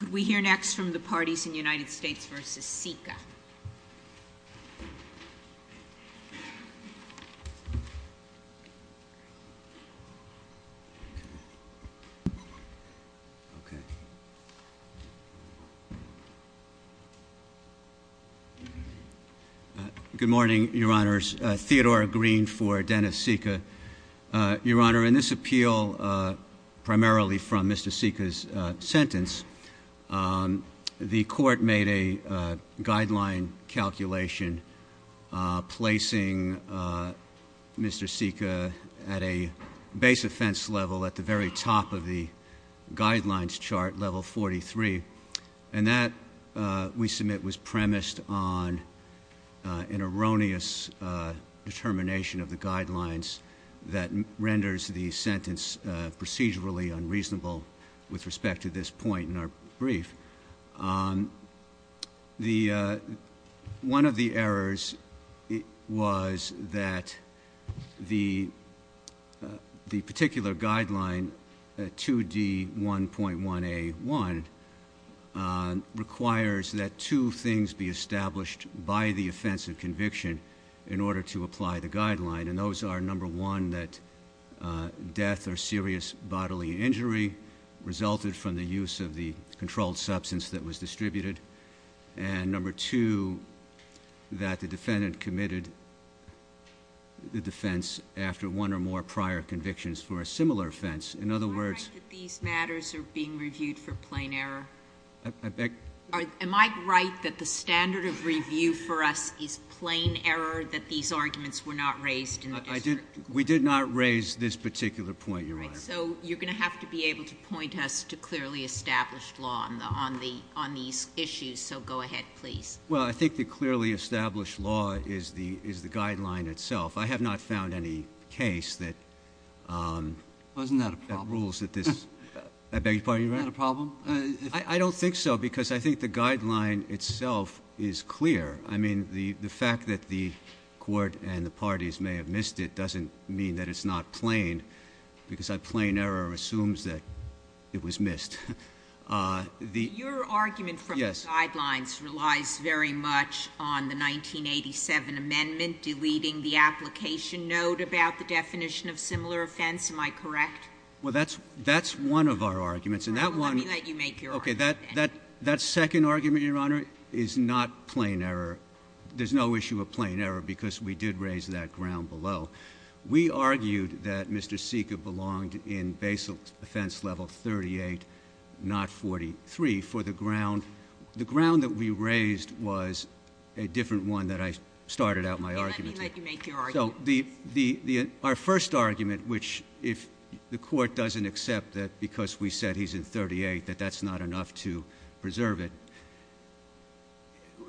Could we hear next from the parties in the United States v. Sika? Good morning, Your Honors. Theodore Green for Dennis Sika. Your Honor, in this appeal, primarily from Mr. Sika's sentence, the court made a guideline calculation placing Mr. Sika at a base offense level at the very top of the guidelines chart, level 43. And that, we submit, was premised on an erroneous determination of the guidelines that renders the sentence procedurally unreasonable with respect to this point in our brief. One of the errors was that the particular guideline 2D1.1A1 requires that two things be established by the offense of conviction in order to apply the guideline. And those are, number one, that death or serious bodily injury resulted from the use of the controlled substance that was distributed, and number two, that the defendant committed the defense after one or more prior convictions for a similar offense. In other words— Am I right that these matters are being reviewed for plain error? I beg— Am I right that the standard of review for us is plain error, that these arguments were not raised in the district court? We did not raise this particular point, Your Honor. All right, so you're going to have to be able to point us to clearly established law on these issues, so go ahead, please. Well, I think the clearly established law is the guideline itself. I have not found any case that— Well, isn't that a problem? —rules that this—I beg your pardon, Your Honor? Isn't that a problem? I don't think so because I think the guideline itself is clear. I mean, the fact that the court and the parties may have missed it doesn't mean that it's not plain because a plain error assumes that it was missed. Your argument for— Yes. —guidelines relies very much on the 1987 amendment deleting the application note about the definition of similar offense. Am I correct? Well, that's one of our arguments, and that one— All right, well, let me let you make your argument. Okay. That second argument, Your Honor, is not plain error. There's no issue of plain error because we did raise that ground below. We argued that Mr. Sika belonged in basal offense level 38, not 43 for the ground. The ground that we raised was a different one that I started out my argument with. Okay, let me let you make your argument. So our first argument, which if the court doesn't accept that because we said he's in 38 that that's not enough to preserve it,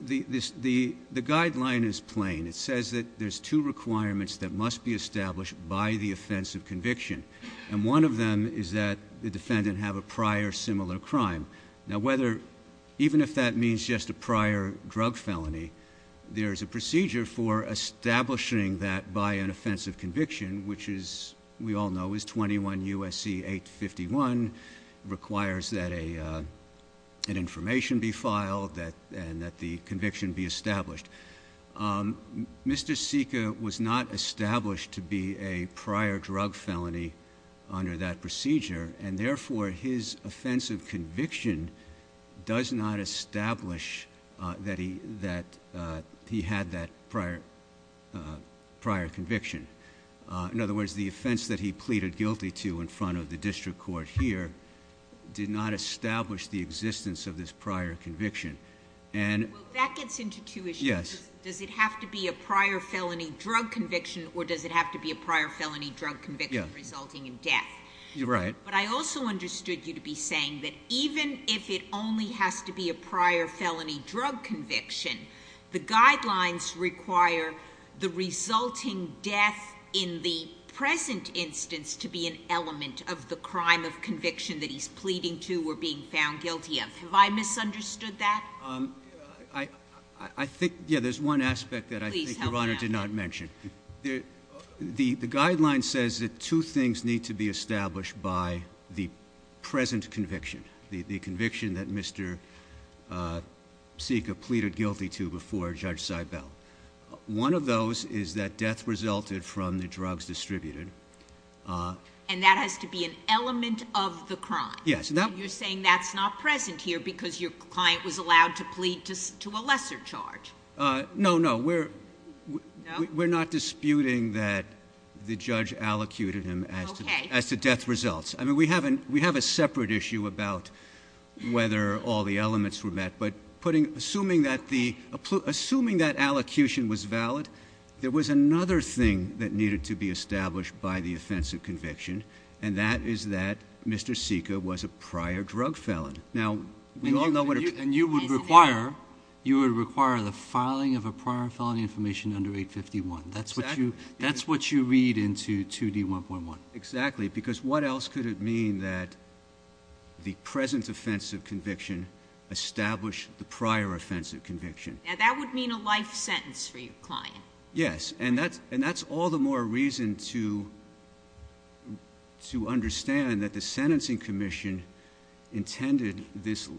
the guideline is plain. It says that there's two requirements that must be established by the offense of conviction, and one of them is that the defendant have a prior similar crime. Now, even if that means just a prior drug felony, there is a procedure for establishing that by an offense of conviction, which as we all know is 21 U.S.C. 851. It requires that an information be filed and that the conviction be established. Mr. Sika was not established to be a prior drug felony under that procedure, and therefore his offense of conviction does not establish that he had that prior conviction. In other words, the offense that he pleaded guilty to in front of the district court here did not establish the existence of this prior conviction. Well, that gets into two issues. Yes. Does it have to be a prior felony drug conviction or does it have to be a prior felony drug conviction resulting in death? You're right. But I also understood you to be saying that even if it only has to be a prior felony drug conviction, the guidelines require the resulting death in the present instance to be an element of the crime of conviction that he's pleading to or being found guilty of. Have I misunderstood that? I think, yeah, there's one aspect that I think Your Honor did not mention. The guideline says that two things need to be established by the present conviction, the conviction that Mr. Sika pleaded guilty to before Judge Seibel. One of those is that death resulted from the drugs distributed. And that has to be an element of the crime? Yes. And you're saying that's not present here because your client was allowed to plead to a lesser charge? No, no. We're not disputing that the judge allocuted him as to death results. I mean, we have a separate issue about whether all the elements were met. But assuming that allocution was valid, there was another thing that needed to be established by the offense of conviction, and that is that Mr. Sika was a prior drug felon. And you would require the filing of a prior felony information under 851. Exactly. That's what you read into 2D1.1. Exactly. Because what else could it mean that the present offense of conviction established the prior offense of conviction? That would mean a life sentence for your client. Yes. And that's all the more reason to understand that the sentencing commission intended this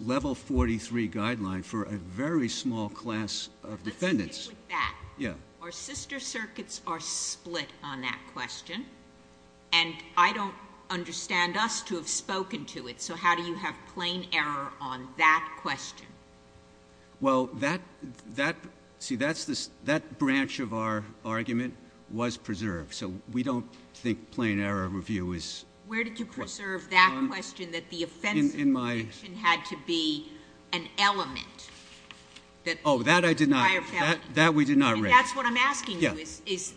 level 43 guideline for a very small class of defendants. Let's stick with that. Yeah. Our sister circuits are split on that question, and I don't understand us to have spoken to it. So how do you have plain error on that question? Well, see, that branch of our argument was preserved. So we don't think plain error review is correct. Where did you preserve that question that the offense of conviction had to be an element? Oh, that I did not. That we did not raise. And that's what I'm asking you is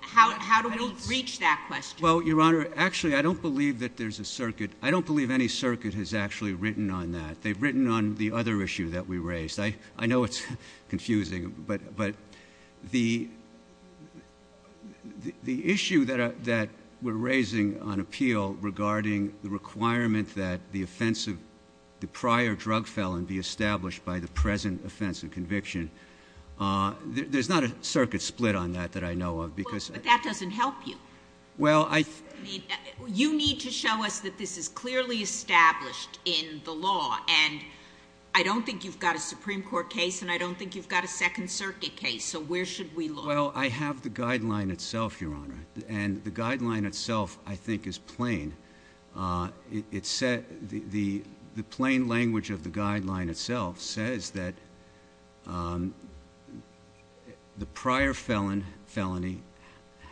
how do we reach that question? Well, Your Honor, actually, I don't believe that there's a circuit. I don't believe any circuit has actually written on that. They've written on the other issue that we raised. I know it's confusing, but the issue that we're raising on appeal regarding the requirement that the offense of the prior drug felon be established by the present offense of conviction, there's not a circuit split on that that I know of. But that doesn't help you. You need to show us that this is clearly established in the law. And I don't think you've got a Supreme Court case, and I don't think you've got a Second Circuit case. So where should we look? Well, I have the guideline itself, Your Honor. And the guideline itself, I think, is plain. The plain language of the guideline itself says that the prior felony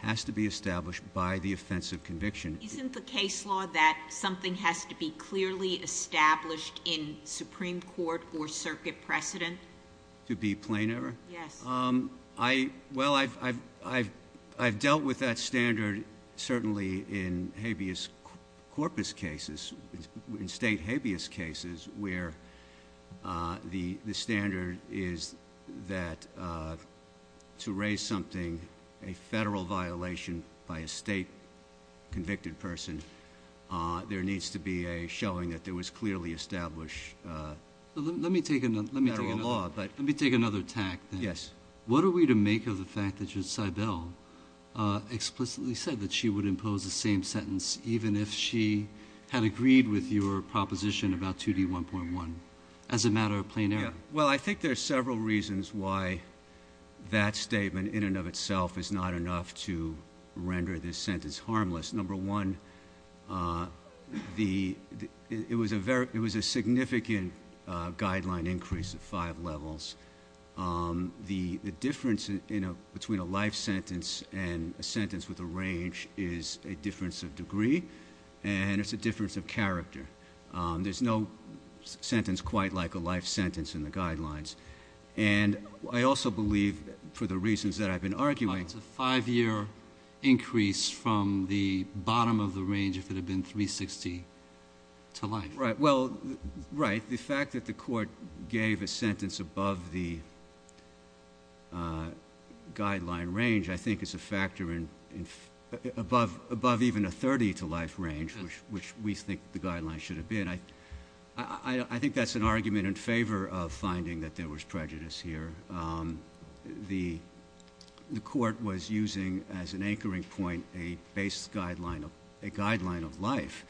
has to be established by the offense of conviction. Isn't the case law that something has to be clearly established in Supreme Court or circuit precedent? To be plainer? Yes. Well, I've dealt with that standard certainly in habeas corpus cases, in state habeas cases, where the standard is that to raise something, a federal violation by a state convicted person, there needs to be a showing that there was clearly established federal law. Let me take another tack. Yes. What are we to make of the fact that Judge Seibel explicitly said that she would impose the same sentence, even if she had agreed with your proposition about 2D1.1, as a matter of plain error? Well, I think there are several reasons why that statement in and of itself is not enough to render this sentence harmless. Number one, it was a significant guideline increase of five levels. The difference between a life sentence and a sentence with a range is a difference of degree, and it's a difference of character. There's no sentence quite like a life sentence in the guidelines. And I also believe, for the reasons that I've been arguing- The bottom of the range, if it had been 360 to life. Right. Well, right. The fact that the court gave a sentence above the guideline range, I think, is a factor above even a 30 to life range, which we think the guideline should have been. I think that's an argument in favor of finding that there was prejudice here. The court was using, as an anchoring point, a baseline guideline of life.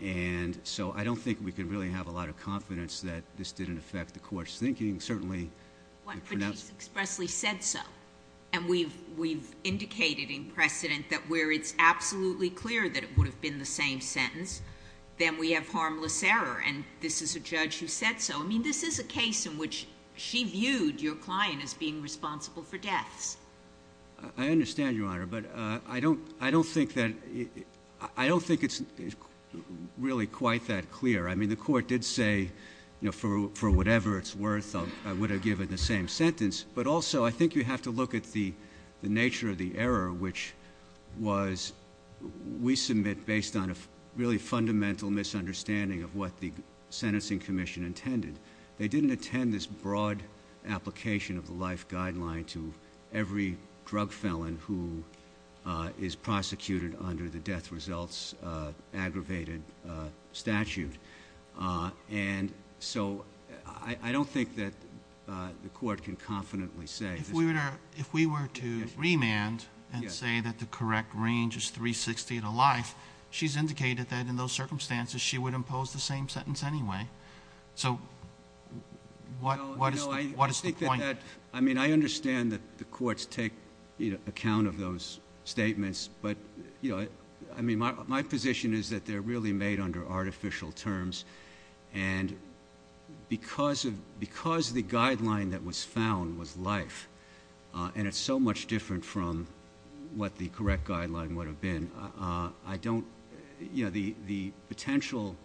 And so I don't think we can really have a lot of confidence that this didn't affect the court's thinking. Certainly- But she expressly said so. And we've indicated in precedent that where it's absolutely clear that it would have been the same sentence, then we have harmless error. And this is a judge who said so. I mean, this is a case in which she viewed your client as being responsible for deaths. I understand, Your Honor. But I don't think it's really quite that clear. I mean, the court did say, for whatever it's worth, I would have given the same sentence. But also, I think you have to look at the nature of the error, which was we submit, based on a really fundamental misunderstanding of what the sentencing commission intended. They didn't attend this broad application of the life guideline to every drug felon who is prosecuted under the death results aggravated statute. And so I don't think that the court can confidently say- If we were to remand and say that the correct range is 360 to life, she's indicated that in those circumstances she would impose the same sentence anyway. So what is the point? I mean, I understand that the courts take account of those statements. I mean, my position is that they're really made under artificial terms. And because the guideline that was found was life, and it's so much different from what the correct guideline would have been, the potential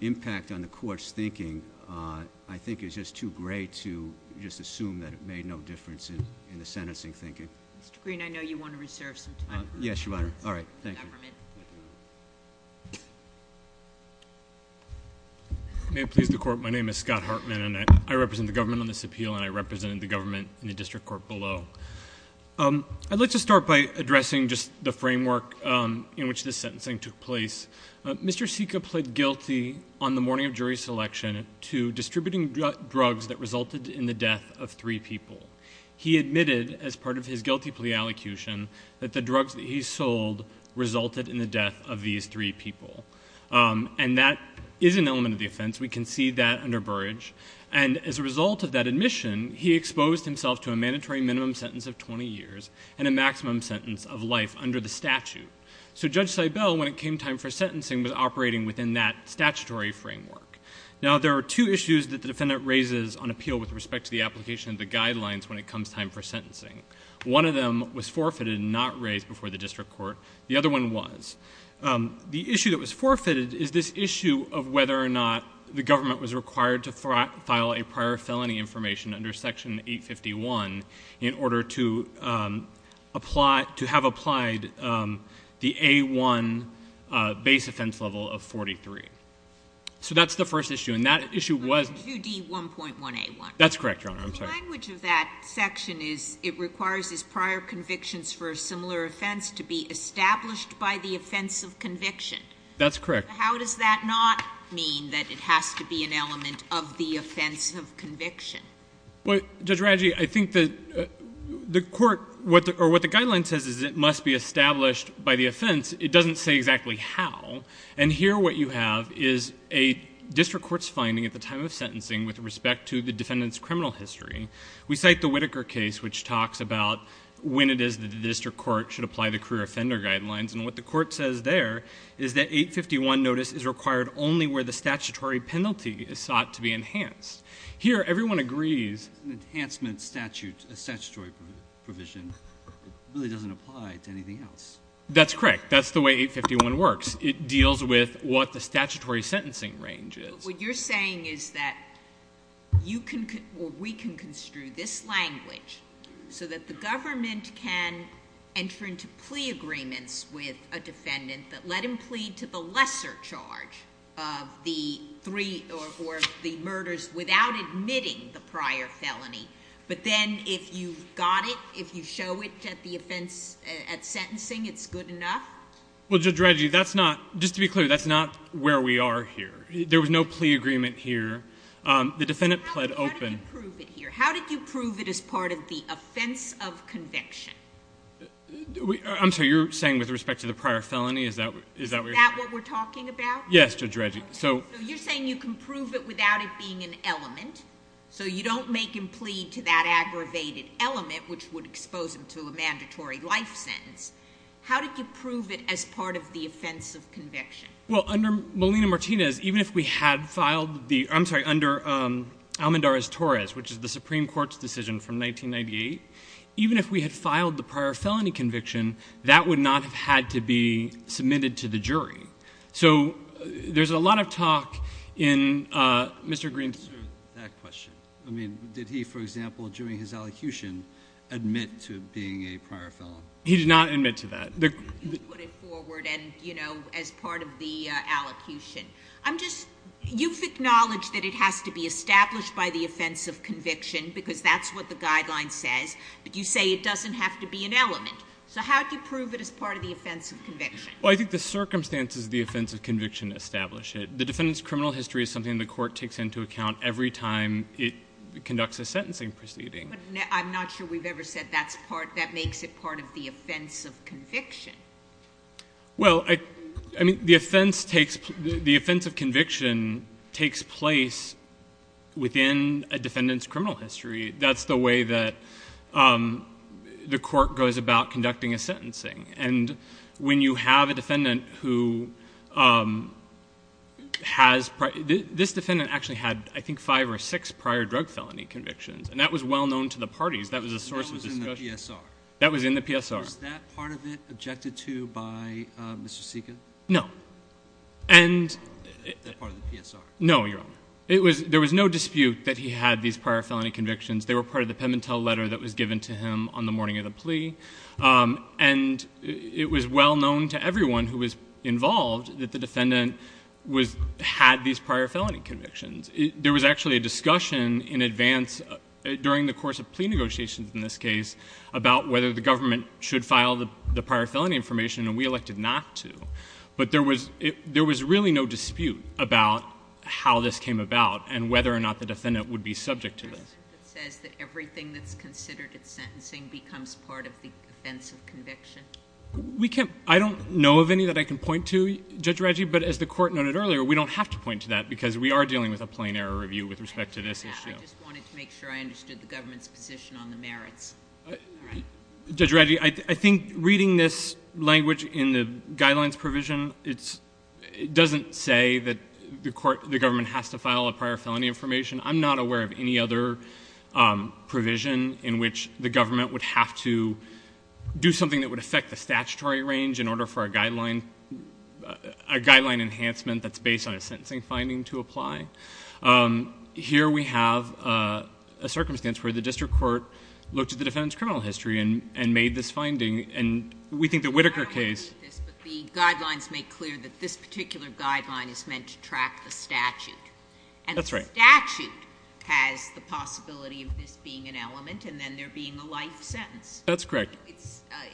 impact on the court's thinking, I think, is just too great to just assume that it made no difference in the sentencing thinking. Mr. Green, I know you want to reserve some time. Yes, Your Honor. All right. Thank you. May it please the Court, my name is Scott Hartman, and I represent the government on this appeal, and I represent the government in the district court below. I'd like to start by addressing just the framework in which this sentencing took place. Mr. Seca pled guilty on the morning of jury selection to distributing drugs that resulted in the death of three people. He admitted, as part of his guilty plea allocution, that the drugs that he sold resulted in the death of these three people. And that is an element of the offense. We can see that under Burrage. And as a result of that admission, he exposed himself to a mandatory minimum sentence of 20 years and a maximum sentence of life under the statute. So Judge Seibel, when it came time for sentencing, was operating within that statutory framework. Now, there are two issues that the defendant raises on appeal with respect to the application of the guidelines when it comes time for sentencing. One of them was forfeited and not raised before the district court. The other one was. The issue that was forfeited is this issue of whether or not the government was required to file a prior felony information under Section 851 in order to have applied the A-1 base offense level of 43. So that's the first issue. And that issue was. 2D1.1A1. That's correct, Your Honor. I'm sorry. The language of that section is it requires his prior convictions for a similar offense to be established by the offense of conviction. That's correct. How does that not mean that it has to be an element of the offense of conviction? Well, Judge Radji, I think the court, or what the guideline says is it must be established by the offense. It doesn't say exactly how. And here what you have is a district court's finding at the time of sentencing with respect to the defendant's criminal history. We cite the Whitaker case, which talks about when it is that the district court should apply the career offender guidelines. And what the court says there is that 851 notice is required only where the statutory penalty is sought to be enhanced. Here, everyone agrees. Enhancement statute, a statutory provision really doesn't apply to anything else. That's correct. That's the way 851 works. It deals with what the statutory sentencing range is. What you're saying is that we can construe this language so that the government can enter into plea agreements with a defendant that let him plead to the lesser charge of the murders without admitting the prior felony, but then if you've got it, if you show it at sentencing, it's good enough? Well, Judge Reggie, just to be clear, that's not where we are here. There was no plea agreement here. The defendant pled open. How did you prove it here? How did you prove it as part of the offense of conviction? I'm sorry. You're saying with respect to the prior felony? Is that what we're talking about? Yes, Judge Reggie. You're saying you can prove it without it being an element, so you don't make him plead to that aggravated element, which would expose him to a mandatory life sentence. How did you prove it as part of the offense of conviction? Well, under Molina-Martinez, even if we had filed the ‑‑ I'm sorry, under Almendarez-Torres, which is the Supreme Court's decision from 1998, even if we had filed the prior felony conviction, that would not have had to be submitted to the jury. So there's a lot of talk in Mr. Green's ‑‑ Answer that question. I mean, did he, for example, during his elocution, admit to being a prior felon? He did not admit to that. You put it forward and, you know, as part of the elocution. I'm just ‑‑ you've acknowledged that it has to be established by the offense of conviction because that's what the guideline says, but you say it doesn't have to be an element. So how do you prove it as part of the offense of conviction? Well, I think the circumstances of the offense of conviction establish it. The defendant's criminal history is something the court takes into account every time it conducts a sentencing proceeding. But I'm not sure we've ever said that makes it part of the offense of conviction. Well, I mean, the offense of conviction takes place within a defendant's criminal history. That's the way that the court goes about conducting a sentencing. And when you have a defendant who has ‑‑ this defendant actually had, I think, five or six prior drug felony convictions, and that was well known to the parties. That was a source of discussion. That was in the PSR. That was in the PSR. Was that part of it objected to by Mr. Seca? No. And ‑‑ That part of the PSR. No, Your Honor. There was no dispute that he had these prior felony convictions. They were part of the pembentel letter that was given to him on the morning of the plea. And it was well known to everyone who was involved that the defendant had these prior felony convictions. There was actually a discussion in advance during the course of plea negotiations in this case about whether the government should file the prior felony information, and we elected not to. But there was really no dispute about how this came about and whether or not the defendant would be subject to this. It says that everything that's considered in sentencing becomes part of the offense of conviction. We can't ‑‑ I don't know of any that I can point to, Judge Radji, but as the court noted earlier, we don't have to point to that because we are dealing with a plain error review with respect to this issue. I just wanted to make sure I understood the government's position on the merits. All right. Judge Radji, I think reading this language in the guidelines provision, it doesn't say that the government has to file a prior felony information. I'm not aware of any other provision in which the government would have to do something that would affect the statutory range in order for a guideline enhancement that's based on a sentencing finding to apply. Here we have a circumstance where the district court looked at the defendant's criminal history and made this finding, and we think the Whitaker case ‑‑ I don't want to repeat this, but the guidelines make clear that this particular guideline is meant to track the statute. That's right. And the statute has the possibility of this being an element and then there being a life sentence. That's correct.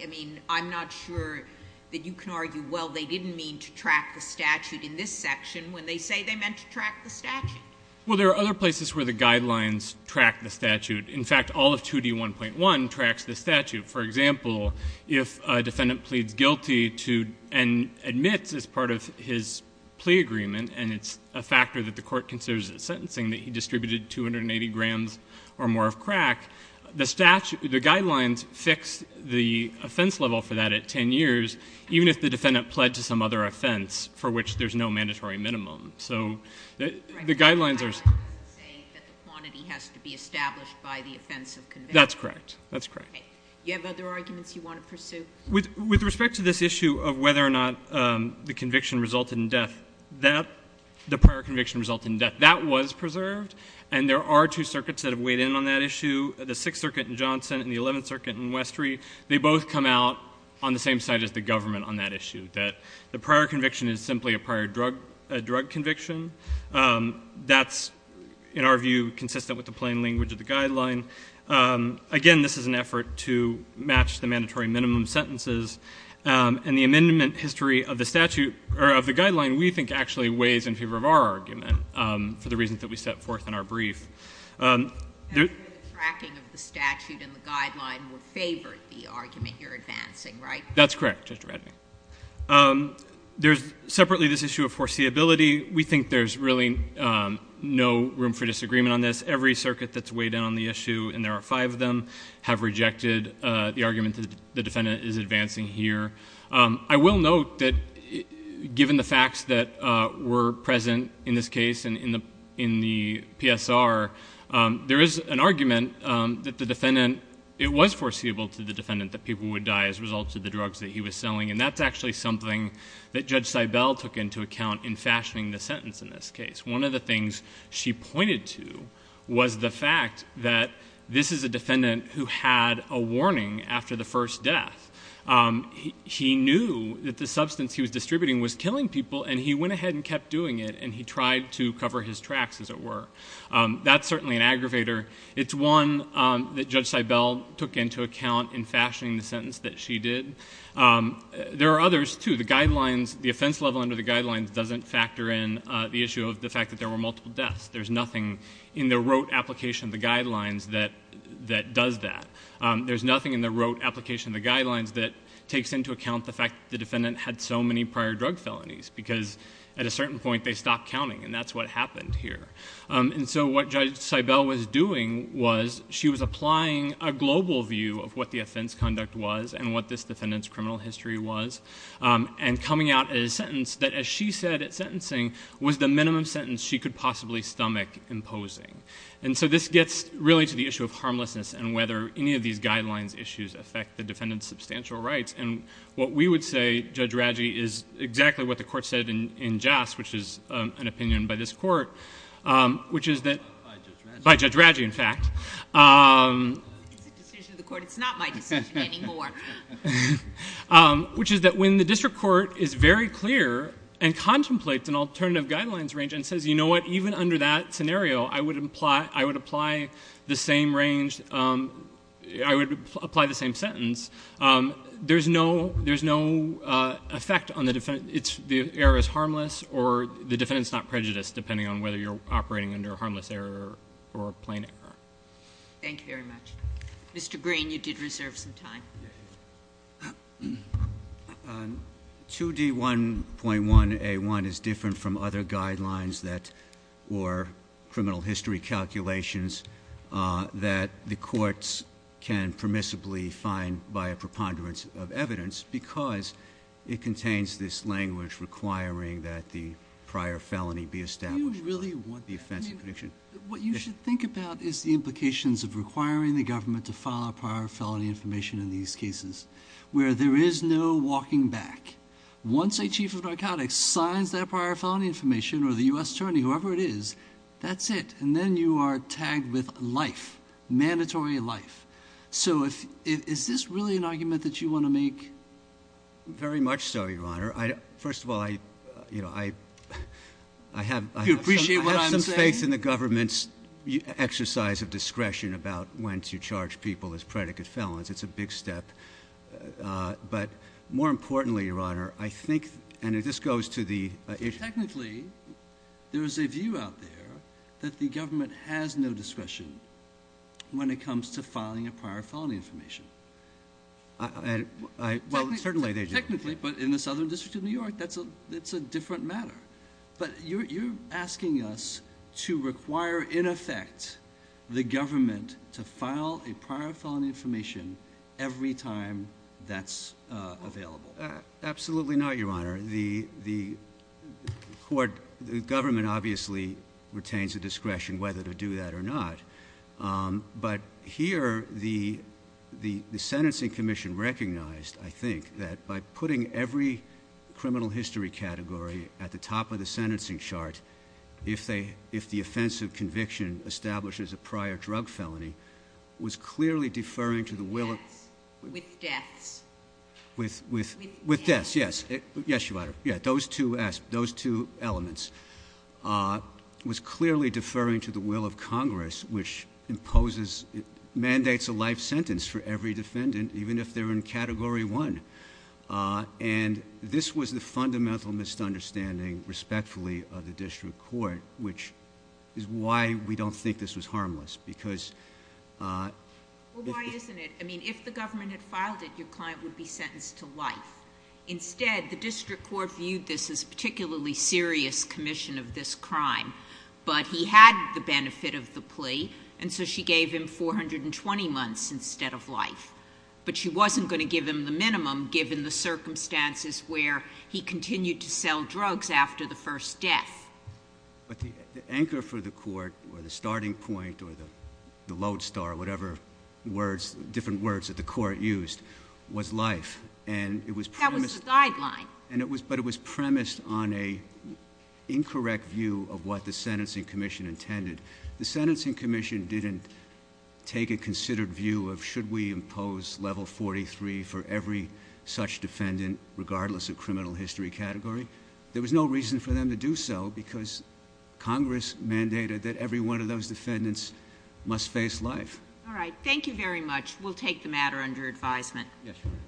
I mean, I'm not sure that you can argue, well, they didn't mean to track the statute in this section when they say they meant to track the statute. Well, there are other places where the guidelines track the statute. In fact, all of 2D1.1 tracks the statute. For example, if a defendant pleads guilty and admits as part of his plea agreement and it's a factor that the court considers as sentencing that he distributed 280 grams or more of crack, the guidelines fix the offense level for that at 10 years, even if the defendant pled to some other offense for which there's no mandatory minimum. So the guidelines are ‑‑ The guidelines say that the quantity has to be established by the offense of conviction. That's correct. That's correct. Okay. Do you have other arguments you want to pursue? With respect to this issue of whether or not the conviction resulted in death, the prior conviction resulted in death, that was preserved, and there are two circuits that have weighed in on that issue, the Sixth Circuit in Johnson and the Eleventh Circuit in Westry. They both come out on the same side as the government on that issue, that the prior conviction is simply a prior drug conviction. That's, in our view, consistent with the plain language of the guideline. Again, this is an effort to match the mandatory minimum sentences, and the amendment history of the statute, or of the guideline, we think actually weighs in favor of our argument for the reasons that we set forth in our brief. The tracking of the statute and the guideline would favor the argument you're advancing, right? That's correct, Justice Radley. There's separately this issue of foreseeability. We think there's really no room for disagreement on this. Every circuit that's weighed in on the issue, and there are five of them, have rejected the argument that the defendant is advancing here. I will note that given the facts that were present in this case and in the PSR, there is an argument that the defendant, it was foreseeable to the defendant that people would die as a result of the drugs that he was selling, and that's actually something that Judge Seibel took into account in fashioning the sentence in this case. One of the things she pointed to was the fact that this is a defendant who had a warning after the first death. He knew that the substance he was distributing was killing people, and he went ahead and kept doing it, and he tried to cover his tracks, as it were. That's certainly an aggravator. It's one that Judge Seibel took into account in fashioning the sentence that she did. There are others, too. The offense level under the guidelines doesn't factor in the issue of the fact that there were multiple deaths. There's nothing in the rote application of the guidelines that does that. There's nothing in the rote application of the guidelines that takes into account the fact that the defendant had so many prior drug felonies because at a certain point they stopped counting, and that's what happened here. And so what Judge Seibel was doing was she was applying a global view of what the offense conduct was and what this defendant's criminal history was, and coming out with a sentence that, as she said at sentencing, was the minimum sentence she could possibly stomach imposing. And so this gets really to the issue of harmlessness and whether any of these guidelines issues affect the defendant's substantial rights. And what we would say, Judge Raggi, is exactly what the Court said in JAS, which is an opinion by this Court, which is that... By Judge Raggi. By Judge Raggi, in fact. It's a decision of the Court. It's not my decision anymore. Which is that when the district court is very clear and contemplates an alternative guidelines range and says, you know what, even under that scenario I would apply the same range, I would apply the same sentence, there's no effect on the defendant. The error is harmless, or the defendant's not prejudiced, depending on whether you're operating under a harmless error or a plain error. Thank you very much. Mr. Green, you did reserve some time. 2D1.1A1 is different from other guidelines that were criminal history calculations that the courts can permissibly find by a preponderance of evidence because it contains this language requiring that the prior felony be established. Do you really want that? What you should think about is the implications of requiring the government to file a prior felony information in these cases where there is no walking back. Once a chief of narcotics signs that prior felony information, or the U.S. attorney, whoever it is, that's it. And then you are tagged with life, mandatory life. So is this really an argument that you want to make? Very much so, Your Honor. First of all, I have some faith in the government's exercise of discretion about when to charge people as predicate felons. It's a big step. But more importantly, Your Honor, I think, and this goes to the issue. Technically, there is a view out there that the government has no discretion when it comes to filing a prior felony information. Well, certainly they do. Technically, but in the Southern District of New York, that's a different matter. But you're asking us to require, in effect, the government to file a prior felony information every time that's available. Absolutely not, Your Honor. The government obviously retains the discretion whether to do that or not. But here, the sentencing commission recognized, I think, that by putting every criminal history category at the top of the sentencing chart, if the offense of conviction establishes a prior drug felony, was clearly deferring to the will of- With deaths. With deaths, yes. Yes, Your Honor. Yeah, those two elements. Was clearly deferring to the will of Congress, which imposes, mandates a life sentence for every defendant, even if they're in Category 1. And this was the fundamental misunderstanding, respectfully, of the district court, which is why we don't think this was harmless. Because- Well, why isn't it? I mean, if the government had filed it, your client would be sentenced to life. Instead, the district court viewed this as a particularly serious commission of this crime. But he had the benefit of the plea, and so she gave him 420 months instead of life. But she wasn't going to give him the minimum, given the circumstances where he continued to sell drugs after the first death. But the anchor for the court, or the starting point, or the lodestar, or whatever different words that the court used, was life. And it was- That was the guideline. But it was premised on an incorrect view of what the sentencing commission intended. The sentencing commission didn't take a considered view of, should we impose level 43 for every such defendant, regardless of criminal history category? There was no reason for them to do so, because Congress mandated that every one of those defendants must face life. All right. Thank you very much. We'll take the matter under advisement. Yes, Your Honor.